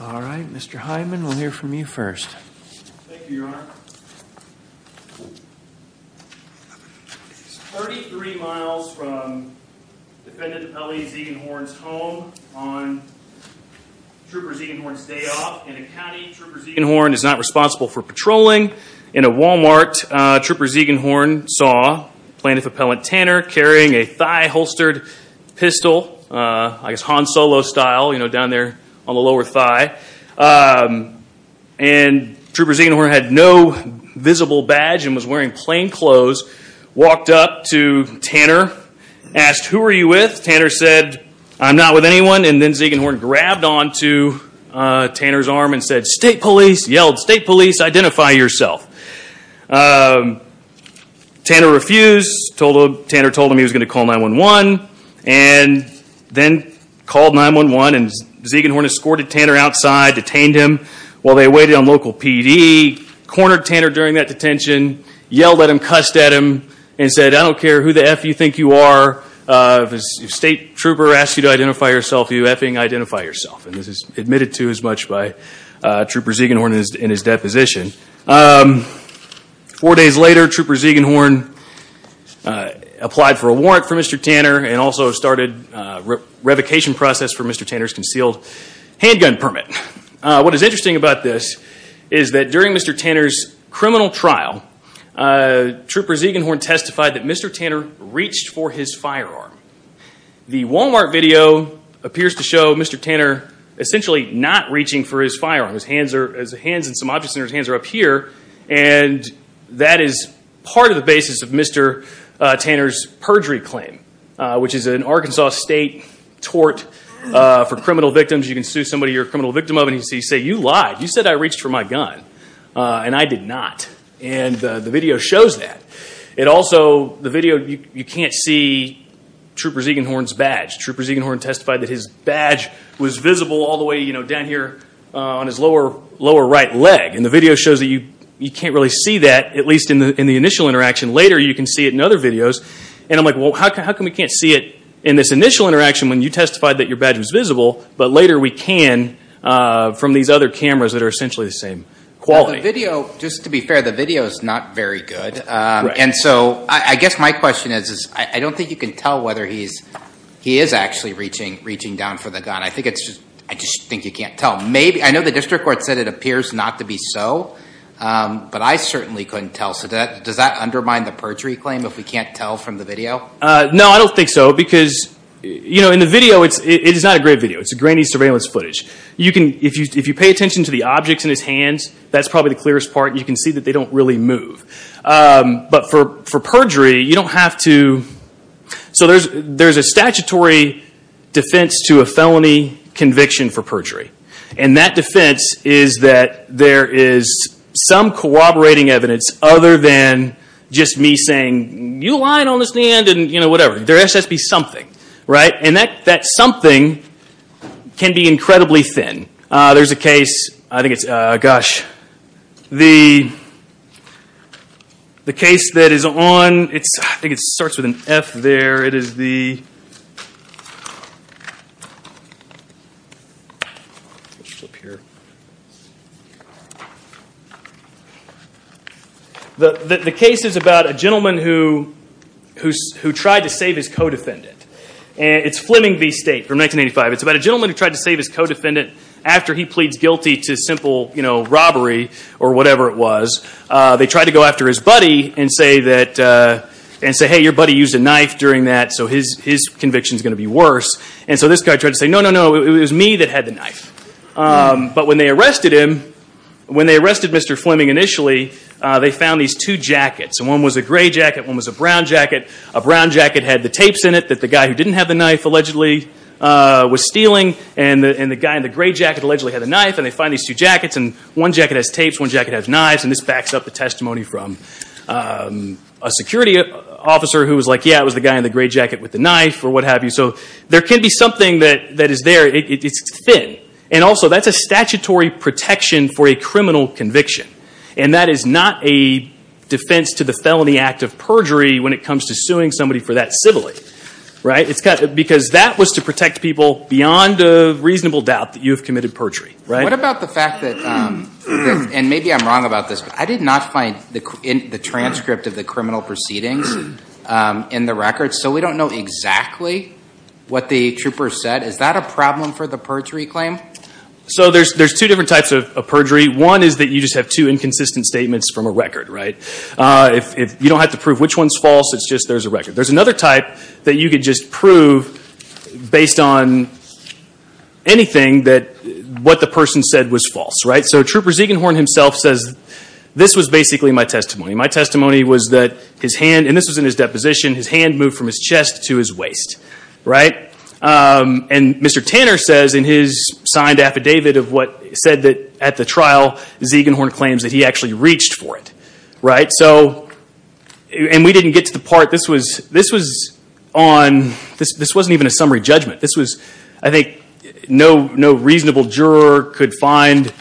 All right, Mr. Hyman, we'll hear from you first. Thank you, Your Honor. Thirty-three miles from Defendant L.E. Ziegenhorn's home on Trooper Ziegenhorn's day off, in a county Trooper Ziegenhorn is not responsible for patrolling. In a Walmart, Trooper Ziegenhorn saw Plaintiff Appellant Tanner carrying a thigh-holstered pistol, I guess Han Solo style, you know, down there on the lower thigh. And Trooper Ziegenhorn had no visible badge and was wearing plain clothes, walked up to Tanner, asked, Who are you with? Tanner said, I'm not with anyone. And then Ziegenhorn grabbed onto Tanner's arm and said, State Police, yelled, State Police, identify yourself. Tanner refused. Tanner told him he was going to call 911. And then called 911 and Ziegenhorn escorted Tanner outside, detained him while they waited on local PD, cornered Tanner during that detention, yelled at him, cussed at him, and said, I don't care who the F you think you are. If State Trooper asks you to identify yourself, you F-ing identify yourself. And this is admitted to as much by Trooper Ziegenhorn in his deposition. Four days later, Trooper Ziegenhorn applied for a warrant for Mr. Tanner and also started a revocation process for Mr. Tanner's concealed handgun permit. What is interesting about this is that during Mr. Tanner's criminal trial, Trooper Ziegenhorn testified that Mr. Tanner reached for his firearm. The Walmart video appears to show Mr. Tanner essentially not reaching for his firearm. His hands and some objects in his hands are up here. And that is part of the basis of Mr. Tanner's perjury claim, which is an Arkansas state tort for criminal victims. You can sue somebody you're a criminal victim of and he can say, you lied. You said I reached for my gun. And I did not. And the video shows that. Trooper Ziegenhorn testified that his badge was visible all the way down here on his lower right leg. And the video shows that you can't really see that, at least in the initial interaction. Later you can see it in other videos. And I'm like, well, how come we can't see it in this initial interaction when you testified that your badge was visible, but later we can from these other cameras that are essentially the same quality? Just to be fair, the video is not very good. And so I guess my question is I don't think you can tell whether he is actually reaching down for the gun. I just think you can't tell. I know the district court said it appears not to be so, but I certainly couldn't tell. So does that undermine the perjury claim if we can't tell from the video? No, I don't think so because in the video, it is not a great video. It's a grainy surveillance footage. If you pay attention to the objects in his hands, that's probably the clearest part. You can see that they don't really move. But for perjury, you don't have to... So there's a statutory defense to a felony conviction for perjury. And that defense is that there is some corroborating evidence other than just me saying, you lying on this land and whatever. There has to be something. And that something can be incredibly thin. There's a case. I think it's... Gosh. The case that is on... I think it starts with an F there. It is the... The case is about a gentleman who tried to save his co-defendant. It's Fleming v. State from 1985. It's about a gentleman who tried to save his co-defendant after he pleads guilty to simple robbery or whatever it was. They tried to go after his buddy and say, hey, your buddy used a knife during that, so his conviction is going to be worse. And so this guy tried to say, no, no, no, it was me that had the knife. But when they arrested him, when they arrested Mr. Fleming initially, they found these two jackets. And one was a gray jacket, one was a brown jacket. A brown jacket had the tapes in it that the guy who didn't have the knife allegedly was stealing. And the guy in the gray jacket allegedly had a knife. And they find these two jackets. And one jacket has tapes, one jacket has knives. And this backs up the testimony from a security officer who was like, yeah, it was the guy in the gray jacket with the knife or what have you. So there can be something that is there. It's thin. And also, that's a statutory protection for a criminal conviction. And that is not a defense to the felony act of perjury when it comes to suing somebody for that sibling. Right? Because that was to protect people beyond a reasonable doubt that you have committed perjury. What about the fact that, and maybe I'm wrong about this, but I did not find the transcript of the criminal proceedings in the records, so we don't know exactly what the trooper said. Is that a problem for the perjury claim? So there's two different types of perjury. One is that you just have two inconsistent statements from a record. Right? You don't have to prove which one's false. It's just there's a record. There's another type that you could just prove based on anything that what the person said was false. Right? So Trooper Ziegenhorn himself says, this was basically my testimony. My testimony was that his hand, and this was in his deposition, his hand moved from his chest to his waist. Right? And Mr. Tanner says in his signed affidavit of what he said at the trial, Ziegenhorn claims that he actually reached for it. Right? So, and we didn't get to the part, this was on, this wasn't even a summary judgment. This was, I think, no reasonable juror could find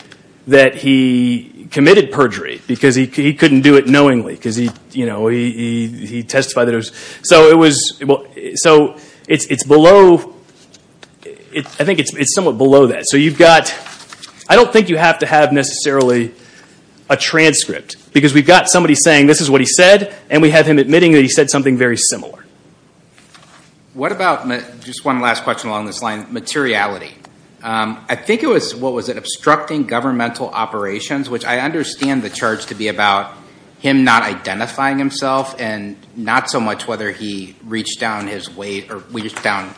that he committed perjury because he couldn't do it knowingly because he testified that it was. So it was, so it's below, I think it's somewhat below that. So you've got, I don't think you have to have necessarily a transcript because we've got somebody saying this is what he said, and we have him admitting that he said something very similar. What about, just one last question along this line, materiality. I think it was, what was it, obstructing governmental operations, which I understand the charge to be about him not identifying himself and not so much whether he reached down his waist or reached down.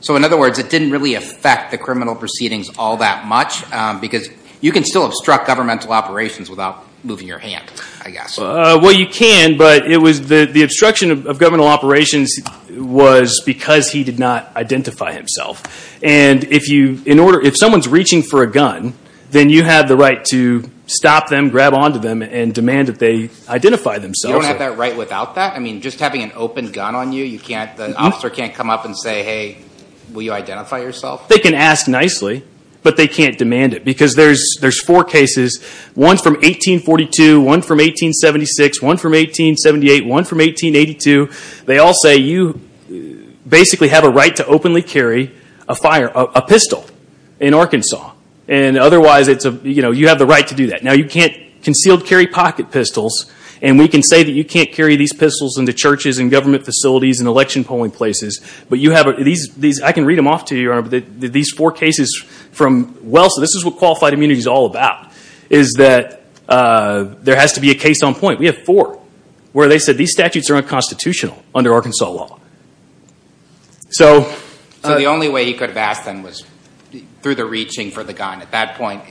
So in other words, it didn't really affect the criminal proceedings all that much because you can still obstruct governmental operations without moving your hand, I guess. Well, you can, but it was the obstruction of governmental operations was because he did not identify himself. And if you, in order, if someone's reaching for a gun, then you have the right to stop them, grab onto them, and demand that they identify themselves. You don't have that right without that? I mean, just having an open gun on you, you can't, the officer can't come up and say, hey, will you identify yourself? They can ask nicely, but they can't demand it because there's four cases, one from 1842, one from 1876, one from 1878, one from 1882. They all say you basically have a right to openly carry a pistol in Arkansas. And otherwise, you have the right to do that. Now, you can't concealed carry pocket pistols, and we can say that you can't carry these pistols into churches and government facilities and election polling places, but you have these, I can read them off to you, Your Honor, but these four cases from, well, so this is what qualified immunity is all about, is that there has to be a case on point. We have four where they said these statutes are unconstitutional under Arkansas law. So the only way he could have asked them was through the reaching for the gun. At that point,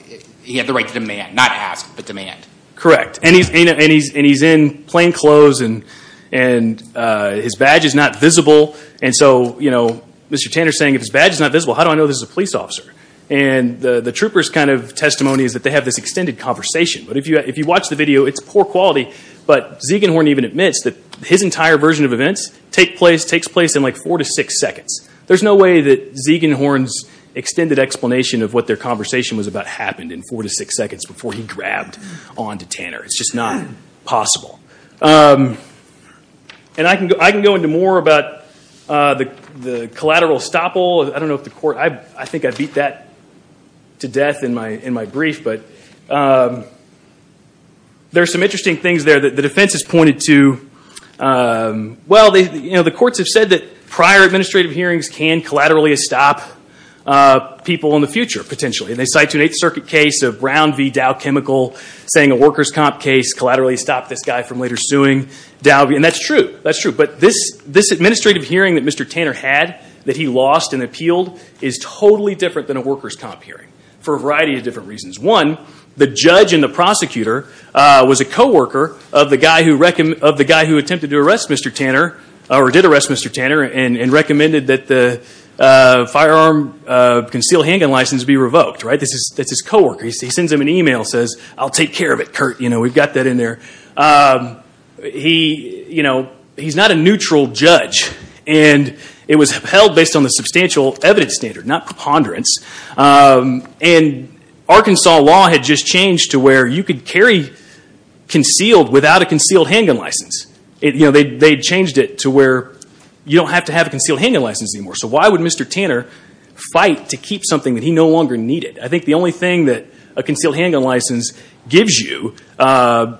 he had the right to demand, not ask, but demand. Correct. And he's in plain clothes, and his badge is not visible. And so, you know, Mr. Tanner is saying, if his badge is not visible, how do I know this is a police officer? And the trooper's kind of testimony is that they have this extended conversation. But if you watch the video, it's poor quality, but Ziegenhorn even admits that his entire version of events takes place in, like, four to six seconds. There's no way that Ziegenhorn's extended explanation of what their conversation was about happened in four to six seconds before he grabbed on to Tanner. It's just not possible. And I can go into more about the collateral estoppel. I think I beat that to death in my brief, but there are some interesting things there. The defense has pointed to, well, you know, the courts have said that prior administrative hearings can collaterally estop people in the future, potentially. And they cite an Eighth Circuit case of Brown v. Dow Chemical saying a workers' comp case collaterally stopped this guy from later suing Dow. And that's true, that's true. But this administrative hearing that Mr. Tanner had that he lost and appealed is totally different than a workers' comp hearing for a variety of different reasons. One, the judge and the prosecutor was a co-worker of the guy who attempted to arrest Mr. Tanner or did arrest Mr. Tanner and recommended that the firearm conceal handgun license be revoked, right? That's his co-worker. He sends him an email and says, I'll take care of it, Kurt. You know, we've got that in there. He, you know, he's not a neutral judge. And it was held based on the substantial evidence standard, not preponderance. And Arkansas law had just changed to where you could carry concealed without a concealed handgun license. You know, they changed it to where you don't have to have a concealed handgun license anymore. So why would Mr. Tanner fight to keep something that he no longer needed? I think the only thing that a concealed handgun license gives you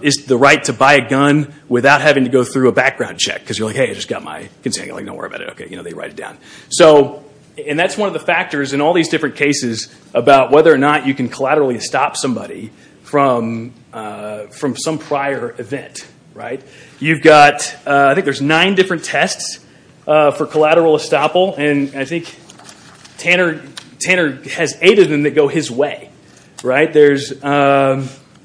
is the right to buy a gun without having to go through a background check. Because you're like, hey, I just got my concealed handgun. Don't worry about it. Okay, you know, they write it down. So, and that's one of the factors in all these different cases about whether or not you can collaterally stop somebody from some prior event, right? You've got, I think there's nine different tests for collateral estoppel. And I think Tanner has eight of them that go his way, right? There's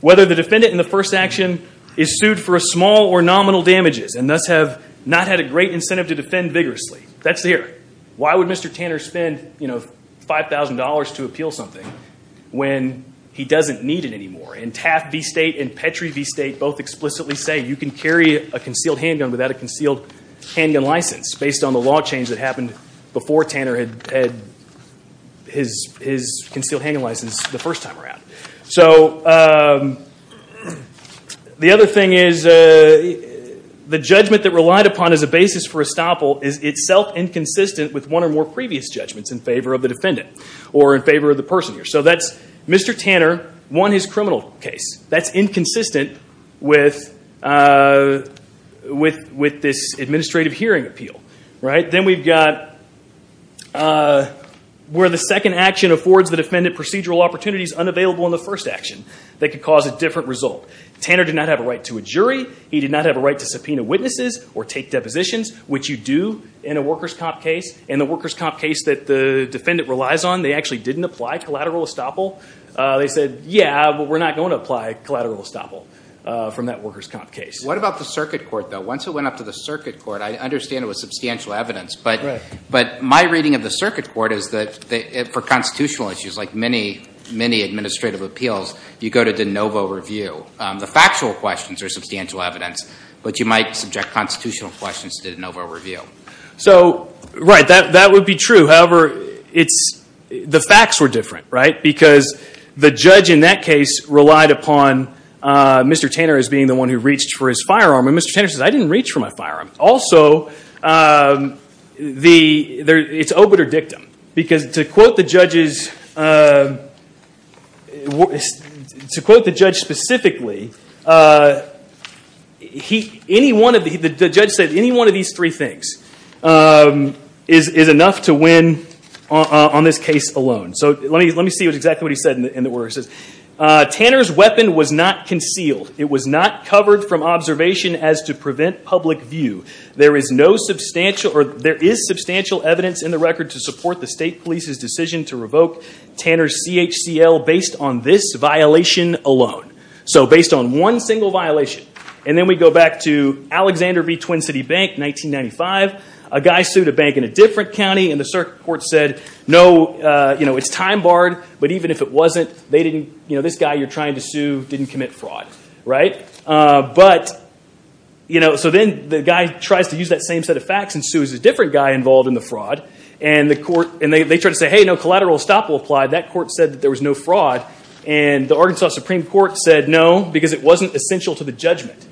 whether the defendant in the first action is sued for small or nominal damages and thus have not had a great incentive to defend vigorously. That's there. Why would Mr. Tanner spend, you know, $5,000 to appeal something when he doesn't need it anymore? And TAF v. State and Petrie v. State both explicitly say you can carry a concealed handgun without a concealed handgun license based on the law change that happened before Tanner had his concealed handgun license the first time around. So, the other thing is the judgment that relied upon as a basis for estoppel is itself inconsistent with one or more previous judgments in favor of the defendant or in favor of the person here. So that's Mr. Tanner won his criminal case. That's inconsistent with this administrative hearing appeal, right? Then we've got where the second action affords the defendant procedural opportunities unavailable in the first action that could cause a different result. Tanner did not have a right to a jury. He did not have a right to subpoena witnesses or take depositions, which you do in a workers' comp case. In the workers' comp case that the defendant relies on, they actually didn't apply collateral estoppel. They said, yeah, but we're not going to apply collateral estoppel from that workers' comp case. What about the circuit court, though? Once it went up to the circuit court, I understand it was substantial evidence. But my reading of the circuit court is that for constitutional issues like many, many administrative appeals, you go to de novo review. The factual questions are substantial evidence, but you might subject constitutional questions to de novo review. So, right, that would be true. However, the facts were different, right? Because the judge in that case relied upon Mr. Tanner as being the one who reached for his firearm. And Mr. Tanner says, I didn't reach for my firearm. Also, it's obiter dictum, because to quote the judge specifically, the judge said, any one of these three things is enough to win on this case alone. So let me see exactly what he said in the words. Tanner's weapon was not concealed. It was not covered from observation as to prevent public view. There is substantial evidence in the record to support the state police's decision to revoke Tanner's CHCL based on this violation alone. So based on one single violation. And then we go back to Alexander v. Twin City Bank, 1995. A guy sued a bank in a different county, and the circuit court said, no, it's time barred. But even if it wasn't, this guy you're trying to sue didn't commit fraud. So then the guy tries to use that same set of facts and sues a different guy involved in the fraud. And they try to say, hey, no, collateral estoppel applied. That court said that there was no fraud. And the Arkansas Supreme Court said, no, because it wasn't essential to the judgment.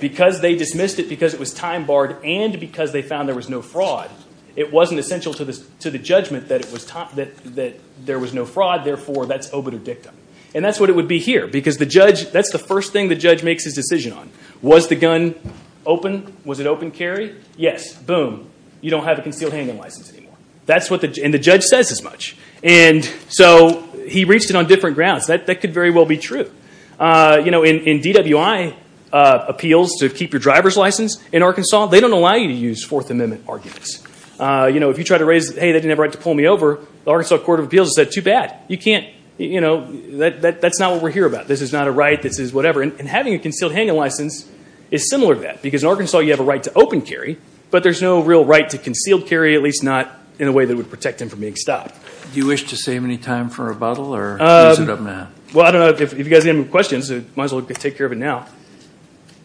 Because they dismissed it because it was time barred and because they found there was no fraud. It wasn't essential to the judgment that there was no fraud. Therefore, that's obitur dictum. And that's what it would be here. Because that's the first thing the judge makes his decision on. Was the gun open? Was it open carry? Yes. Boom. You don't have a concealed handgun license anymore. And the judge says as much. And so he reached it on different grounds. That could very well be true. In DWI appeals to keep your driver's license in Arkansas, they don't allow you to use Fourth Amendment arguments. If you try to raise, hey, they didn't have a right to pull me over, the Arkansas Court of Appeals said, too bad. You can't. That's not what we're here about. This is not a right. This is whatever. And having a concealed handgun license is similar to that. Because in Arkansas, you have a right to open carry. But there's no real right to concealed carry, at least not in a way that would protect him from being stopped. Do you wish to save any time for rebuttal? Well, I don't know. If you guys have any questions, might as well take care of it now.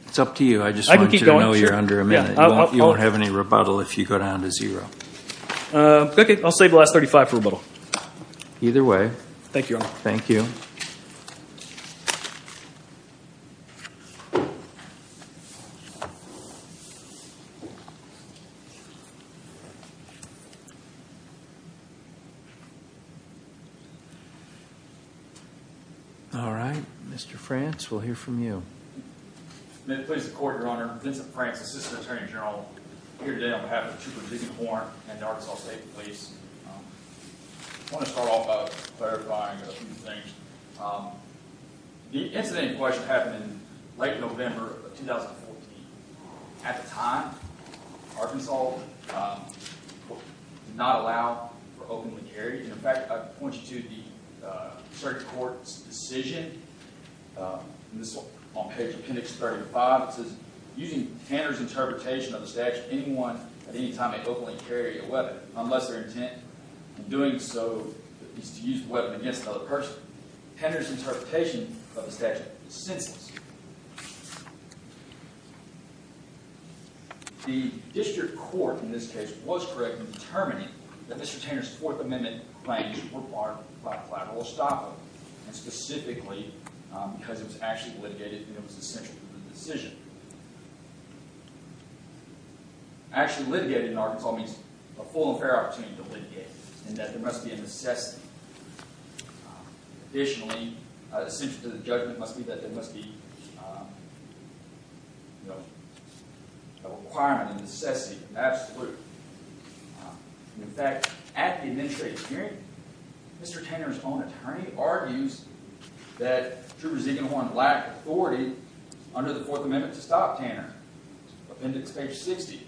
It's up to you. I just want you to know you're under a minute. You won't have any rebuttal if you go down to zero. Okay. I'll save the last 35 for rebuttal. Either way. Thank you, Your Honor. Thank you. All right. Mr. Frantz, we'll hear from you. May it please the Court, Your Honor. Vincent Frantz, Assistant Attorney General. Here today on behalf of the Chief of the Division of Warrant and the Arkansas State Police. I want to start off by clarifying a few things. The incident in question happened in late November of 2014. At the time, Arkansas did not allow for open carry. In fact, I point you to the circuit court's decision. This is on page appendix 35. It says, Using Tanner's interpretation of the statute, anyone at any time may openly carry a weapon unless their intent in doing so is to use the weapon against another person. Tanner's interpretation of the statute is senseless. The district court, in this case, was correct in determining that Mr. Tanner's Fourth Amendment claims were barred by a collateral estoppel. And specifically because it was actually litigated and it was essential to the decision. Actually litigated in Arkansas means a full and fair opportunity to litigate and that there must be a necessity. Additionally, essential to the judgment must be that there must be a requirement, a necessity, an absolute. In fact, at the administrative hearing, Mr. Tanner's own attorney argues that Trooper Ziegenhorn lacked authority under the Fourth Amendment to stop Tanner. Appendix page 60.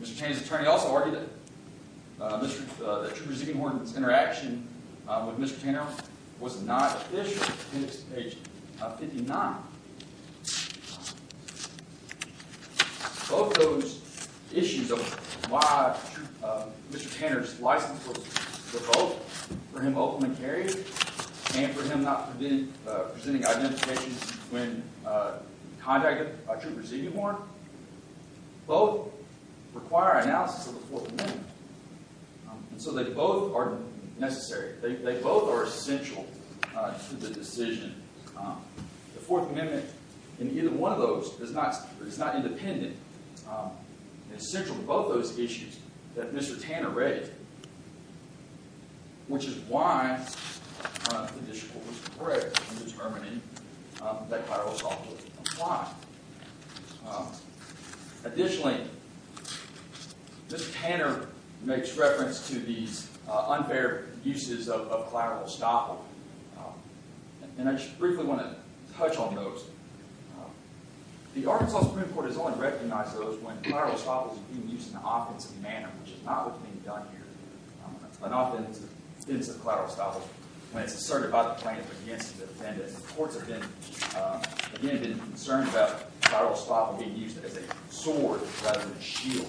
Mr. Tanner's attorney also argued that Trooper Ziegenhorn's interaction with Mr. Tanner was not official. Appendix page 59. Both those issues of why Mr. Tanner's license was revoked for him openly carrying and for him not presenting identification when contacted by Trooper Ziegenhorn, both require analysis of the Fourth Amendment. And so they both are necessary. They both are essential to the decision. The Fourth Amendment in either one of those is not independent. It's central to both those issues that Mr. Tanner raised, which is why the district court was braved in determining that collateral estoppel was applied. Additionally, Mr. Tanner makes reference to these unfair uses of collateral estoppel. And I just briefly want to touch on those. The Arkansas Supreme Court has only recognized those when collateral estoppel is being used in an offensive manner, which is not what's being done here. An offensive collateral estoppel, when it's asserted by the plaintiff against the defendant. The courts have been concerned about collateral estoppel being used as a sword rather than a shield.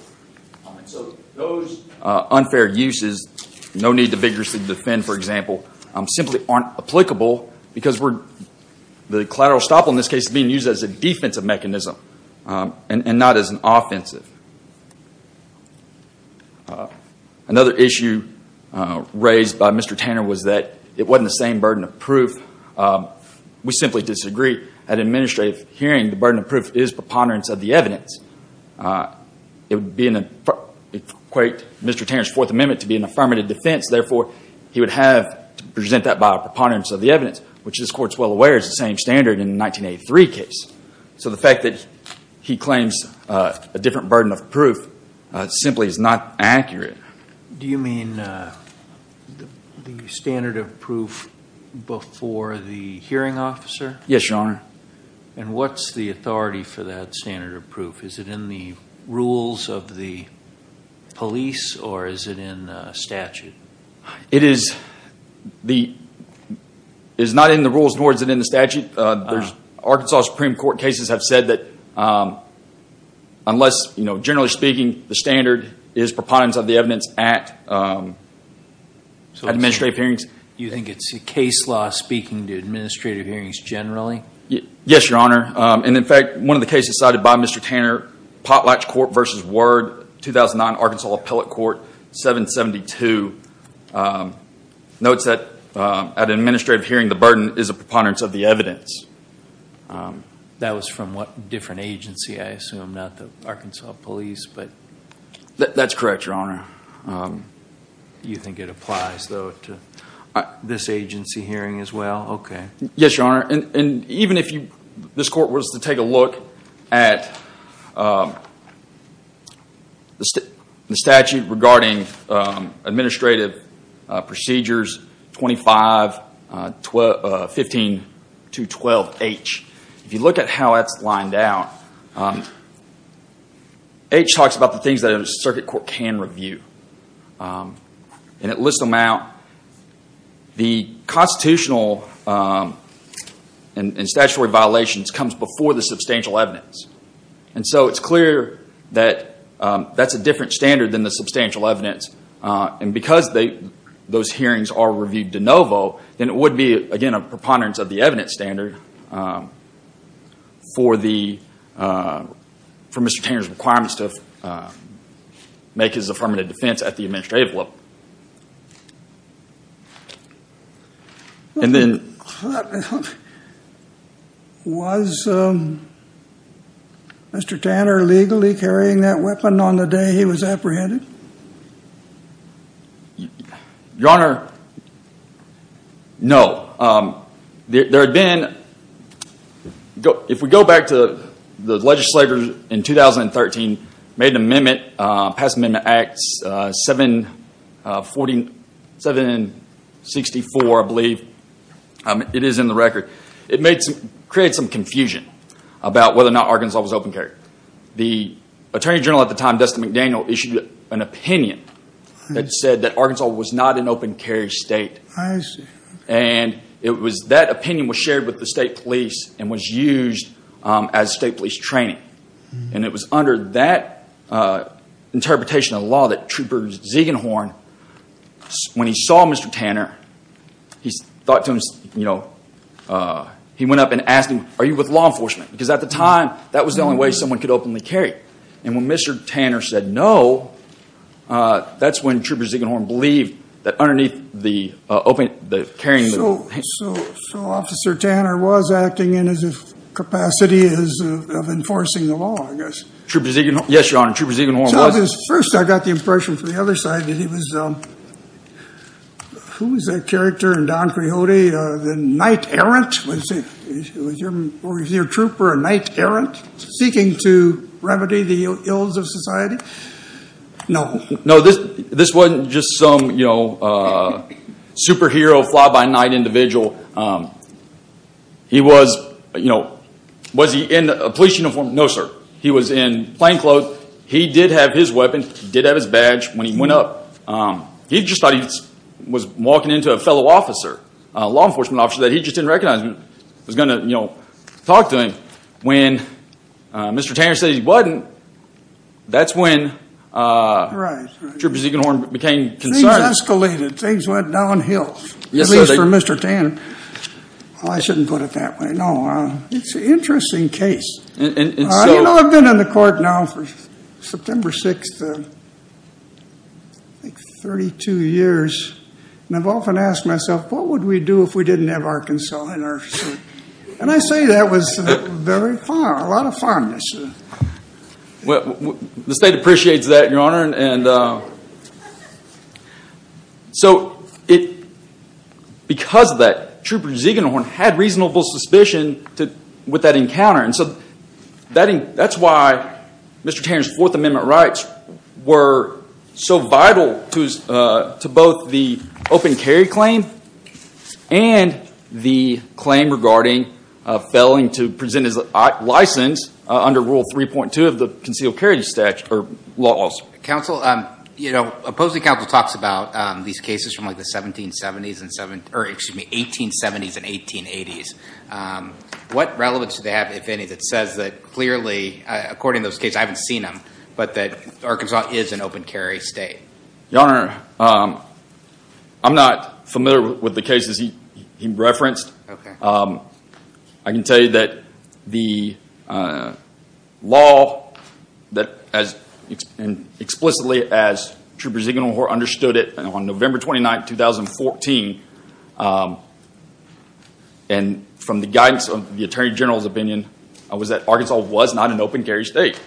So those unfair uses, no need to vigorously defend, for example, simply aren't applicable because the collateral estoppel in this case is being used as a defensive mechanism and not as an offensive. Another issue raised by Mr. Tanner was that it wasn't the same burden of proof. We simply disagree. At administrative hearing, the burden of proof is preponderance of the evidence. It would equate Mr. Tanner's Fourth Amendment to be an affirmative defense. Therefore, he would have to present that by a preponderance of the evidence, which this Court is well aware is the same standard in the 1983 case. So the fact that he claims a different burden of proof simply is not accurate. Do you mean the standard of proof before the hearing officer? Yes, Your Honor. And what's the authority for that standard of proof? Is it in the rules of the police, or is it in statute? It is not in the rules, nor is it in the statute. Arkansas Supreme Court cases have said that unless, generally speaking, the standard is preponderance of the evidence at administrative hearings. You think it's a case law speaking to administrative hearings generally? Yes, Your Honor. And, in fact, one of the cases cited by Mr. Tanner, Potlatch Court v. Word, 2009 Arkansas Appellate Court, 772, notes that at an administrative hearing the burden is a preponderance of the evidence. That was from what different agency? I assume not the Arkansas police, but... That's correct, Your Honor. You think it applies, though, to this agency hearing as well? Okay. Yes, Your Honor. And even if this court was to take a look at the statute regarding administrative procedures 25-15-212H, if you look at how that's lined out, H talks about the things that a circuit court can review. And it lists them out. The constitutional and statutory violations comes before the substantial evidence. And so it's clear that that's a different standard than the substantial evidence. And because those hearings are reviewed de novo, then it would be, again, a preponderance of the evidence standard for Mr. Tanner's requirements to make his affirmative defense at the administrative level. And then... Was Mr. Tanner legally carrying that weapon on the day he was apprehended? Your Honor, no. There had been... If we go back to the legislature in 2013, made an amendment, Pass Amendment Act 764, I believe. It is in the record. It created some confusion about whether or not Arkansas was open carry. The attorney general at the time, Dustin McDaniel, issued an opinion that said that Arkansas was not an open carry state. I see. And that opinion was shared with the state police and was used as state police training. And it was under that interpretation of law that Trooper Ziegenhorn, when he saw Mr. Tanner, he went up and asked him, are you with law enforcement? Because at the time, that was the only way someone could openly carry. And when Mr. Tanner said no, that's when Trooper Ziegenhorn believed that underneath the carrying... So Officer Tanner was acting in his capacity of enforcing the law, I guess. Yes, Your Honor, Trooper Ziegenhorn was. First, I got the impression from the other side that he was... Who was that character in Don Quixote, the Knight Errant? Was your trooper a Knight Errant, seeking to remedy the ills of society? No. No, this wasn't just some superhero, fly-by-night individual. Was he in a police uniform? No, sir. He was in plain clothes. He did have his weapon. He did have his badge when he went up. He just thought he was walking into a fellow officer, a law enforcement officer that he just didn't recognize. He was going to talk to him. When Mr. Tanner said he wasn't, that's when... Right, right. ...Trooper Ziegenhorn became concerned. Things escalated. Things went downhill, at least for Mr. Tanner. I shouldn't put it that way. No, it's an interesting case. And so... You know, I've been in the court now for September 6th, I think 32 years, and I've often asked myself, what would we do if we didn't have Arkansas in our state? And I say that was very far, a lot of farness. The state appreciates that, Your Honor. So because of that, Trooper Ziegenhorn had reasonable suspicion with that encounter. And so that's why Mr. Tanner's Fourth Amendment rights were so vital to both the open carry claim and the claim regarding failing to present his license under Rule 3.2 of the Concealed Carrier Statute, or laws. Counsel, you know, opposing counsel talks about these cases from like the 1770s, or excuse me, 1870s and 1880s. What relevance do they have, if any, that says that clearly, according to those cases, I haven't seen them, but that Arkansas is an open carry state? Your Honor, I'm not familiar with the cases he referenced. I can tell you that the law, and explicitly as Trooper Ziegenhorn understood it on November 29th, 2014, and from the guidance of the Attorney General's opinion, was that Arkansas was not an open carry state.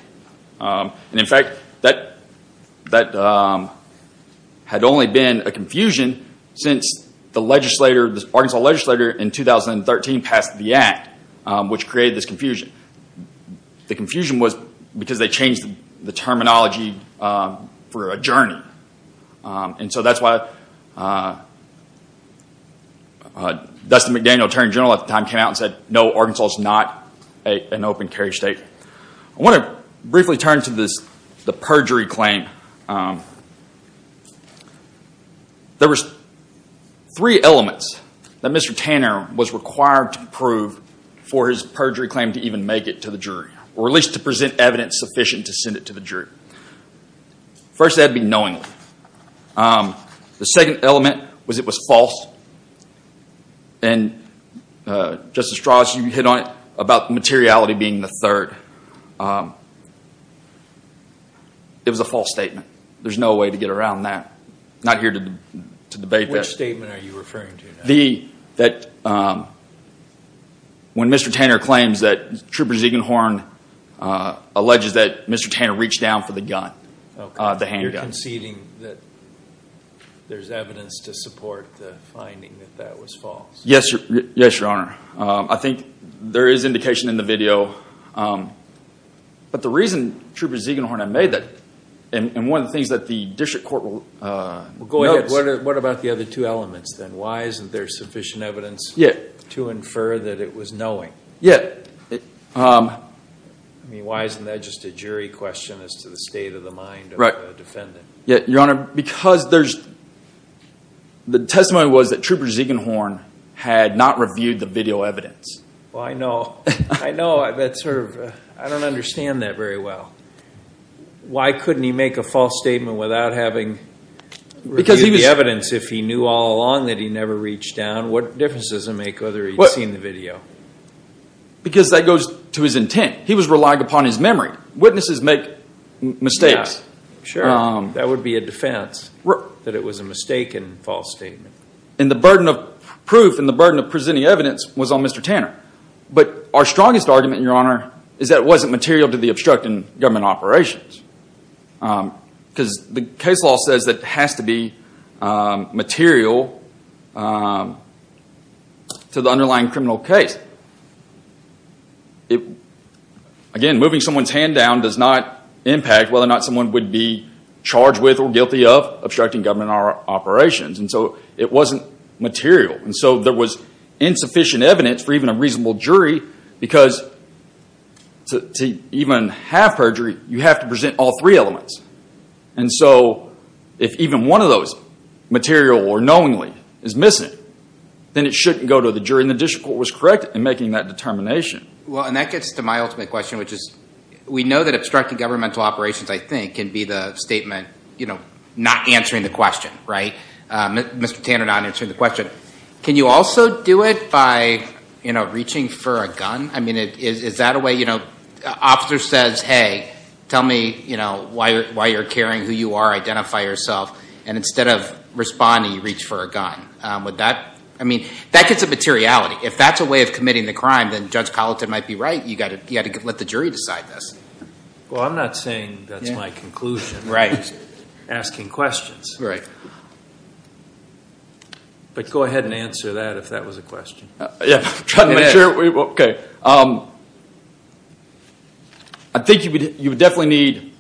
And in fact, that had only been a confusion since the Arkansas legislator in 2013 passed the Act, which created this confusion. The confusion was because they changed the terminology for a journey. And so that's why Dustin McDaniel, Attorney General at the time, came out and said, no, Arkansas is not an open carry state. I want to briefly turn to the perjury claim. There were three elements that Mr. Tanner was required to prove for his perjury claim to even make it to the jury, or at least to present evidence sufficient to send it to the jury. First, that would be knowingly. The second element was it was false. And Justice Strauss, you hit on it about the materiality being the third. It was a false statement. There's no way to get around that. Not here to debate that. Which statement are you referring to now? That when Mr. Tanner claims that Trooper Ziegenhorn alleges that Mr. Tanner reached down for the gun, the handgun. Are you conceding that there's evidence to support the finding that that was false? Yes, Your Honor. I think there is indication in the video. But the reason Trooper Ziegenhorn had made that, and one of the things that the district court will notice. What about the other two elements then? Why isn't there sufficient evidence to infer that it was knowing? Yeah. I mean, why isn't that just a jury question as to the state of the mind of the defendant? Yeah, Your Honor. Because the testimony was that Trooper Ziegenhorn had not reviewed the video evidence. Well, I know. I know. I don't understand that very well. Why couldn't he make a false statement without having reviewed the evidence if he knew all along that he never reached down? What difference does it make whether he'd seen the video? Because that goes to his intent. He was relying upon his memory. Witnesses make mistakes. Sure. That would be a defense that it was a mistaken false statement. And the burden of proof and the burden of presenting evidence was on Mr. Tanner. But our strongest argument, Your Honor, is that it wasn't material to the obstructing government operations. Because the case law says that it has to be material to the underlying criminal case. Again, moving someone's hand down does not impact whether or not someone would be charged with or guilty of obstructing government operations. And so it wasn't material. And so there was insufficient evidence for even a reasonable jury because to even have perjury, you have to present all three elements. And so if even one of those, material or knowingly, is missing, then it shouldn't go to the jury. And the district court was correct in making that determination. Well, and that gets to my ultimate question, which is we know that obstructing governmental operations, I think, can be the statement not answering the question, right? Mr. Tanner not answering the question. Good. Can you also do it by reaching for a gun? I mean, is that a way? An officer says, hey, tell me why you're carrying who you are. Identify yourself. And instead of responding, you reach for a gun. I mean, that gets a materiality. If that's a way of committing the crime, then Judge Colleton might be right. You've got to let the jury decide this. Well, I'm not saying that's my conclusion. Right. Asking questions. Right. Go ahead and answer that if that was a question. Yeah. I'm trying to make sure. Okay. I think you definitely need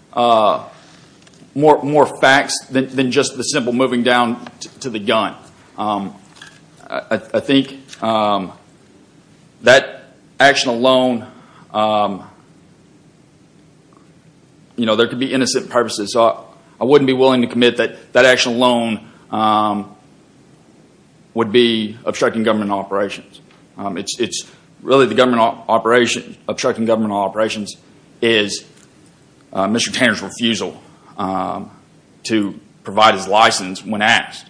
more facts than just the simple moving down to the gun. I think that action alone, you know, there could be innocent purposes. I wouldn't be willing to commit that that action alone would be obstructing government operations. Really, obstructing government operations is Mr. Tanner's refusal to provide his license when asked.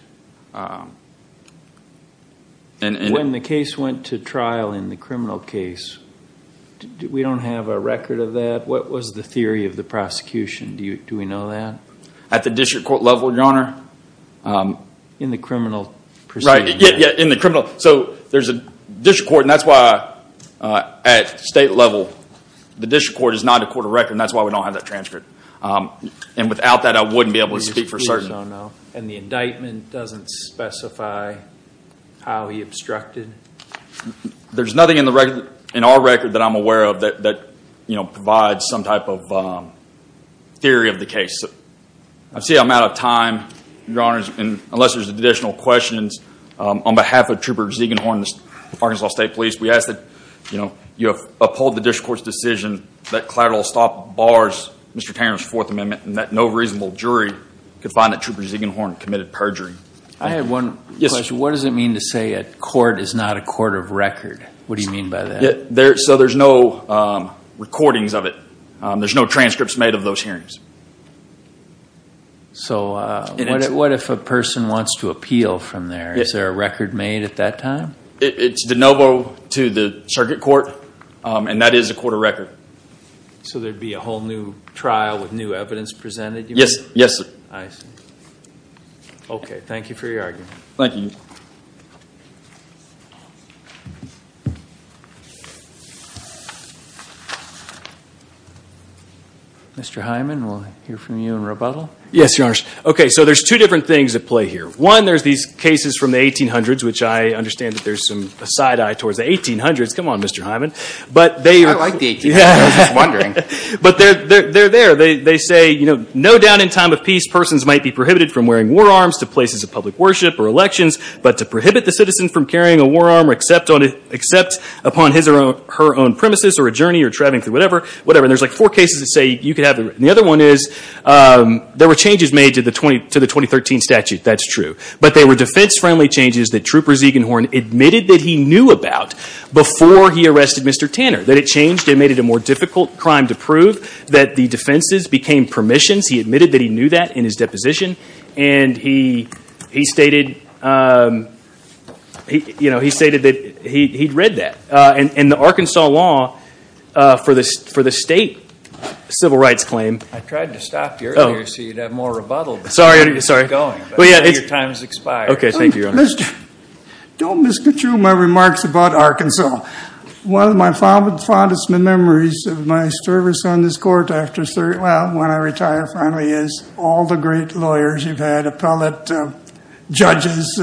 When the case went to trial in the criminal case, we don't have a record of that? What was the theory of the prosecution? Do we know that? At the district court level, Your Honor? In the criminal proceeding? Right. Yeah, in the criminal. So there's a district court, and that's why at state level, the district court is not a court of record, and that's why we don't have that transcript. And without that, I wouldn't be able to speak for certain. And the indictment doesn't specify how he obstructed? There's nothing in our record that I'm aware of that provides some type of theory of the case. I see I'm out of time, Your Honor, unless there's additional questions. On behalf of Trooper Ziegenhorn, Arkansas State Police, we ask that you uphold the district court's decision that collateral stop bars Mr. Tanner's Fourth Amendment and that no reasonable jury could find that Trooper Ziegenhorn committed perjury. I have one question. What does it mean to say a court is not a court of record? What do you mean by that? So there's no recordings of it. There's no transcripts made of those hearings. So what if a person wants to appeal from there? Is there a record made at that time? It's de novo to the circuit court, and that is a court of record. So there would be a whole new trial with new evidence presented? Yes, sir. I see. Okay. Thank you for your argument. Thank you. Mr. Hyman, we'll hear from you in rebuttal. Yes, Your Honor. Okay, so there's two different things at play here. One, there's these cases from the 1800s, which I understand that there's some side eye towards the 1800s. Come on, Mr. Hyman. I like the 1800s. I was just wondering. But they're there. They say, you know, no doubt in time of peace, persons might be prohibited from wearing war arms to places of public worship or elections, but to prohibit the citizen from carrying a war arm or except upon his or her own premises or a journey or traveling through whatever, whatever. And there's, like, four cases that say you could have them. And the other one is there were changes made to the 2013 statute. That's true. But they were defense-friendly changes that Trooper Ziegenhorn admitted that he knew about before he arrested Mr. Tanner, that it changed and made it a more difficult crime to prove, that the defenses became permissions. He admitted that he knew that in his deposition. And he stated, you know, he stated that he'd read that. And the Arkansas law for the state civil rights claim. I tried to stop you earlier so you'd have more rebuttal. Sorry. But your time has expired. Okay. Thank you, Your Honor. Don't misconstrue my remarks about Arkansas. One of my fondest memories of my service on this court after, well, when I retire finally is all the great lawyers you've had, appellate judges.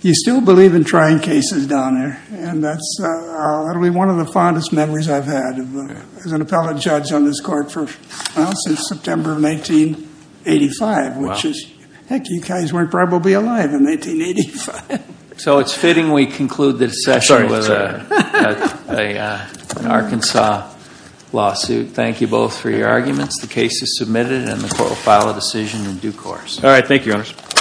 You still believe in trying cases down there. And that's one of the fondest memories I've had as an appellate judge on this court since September of 1985, which is, heck, you guys weren't probably alive in 1985. So it's fitting we conclude this session with an Arkansas lawsuit. Thank you both for your arguments. The case is submitted and the court will file a decision in due course. All right.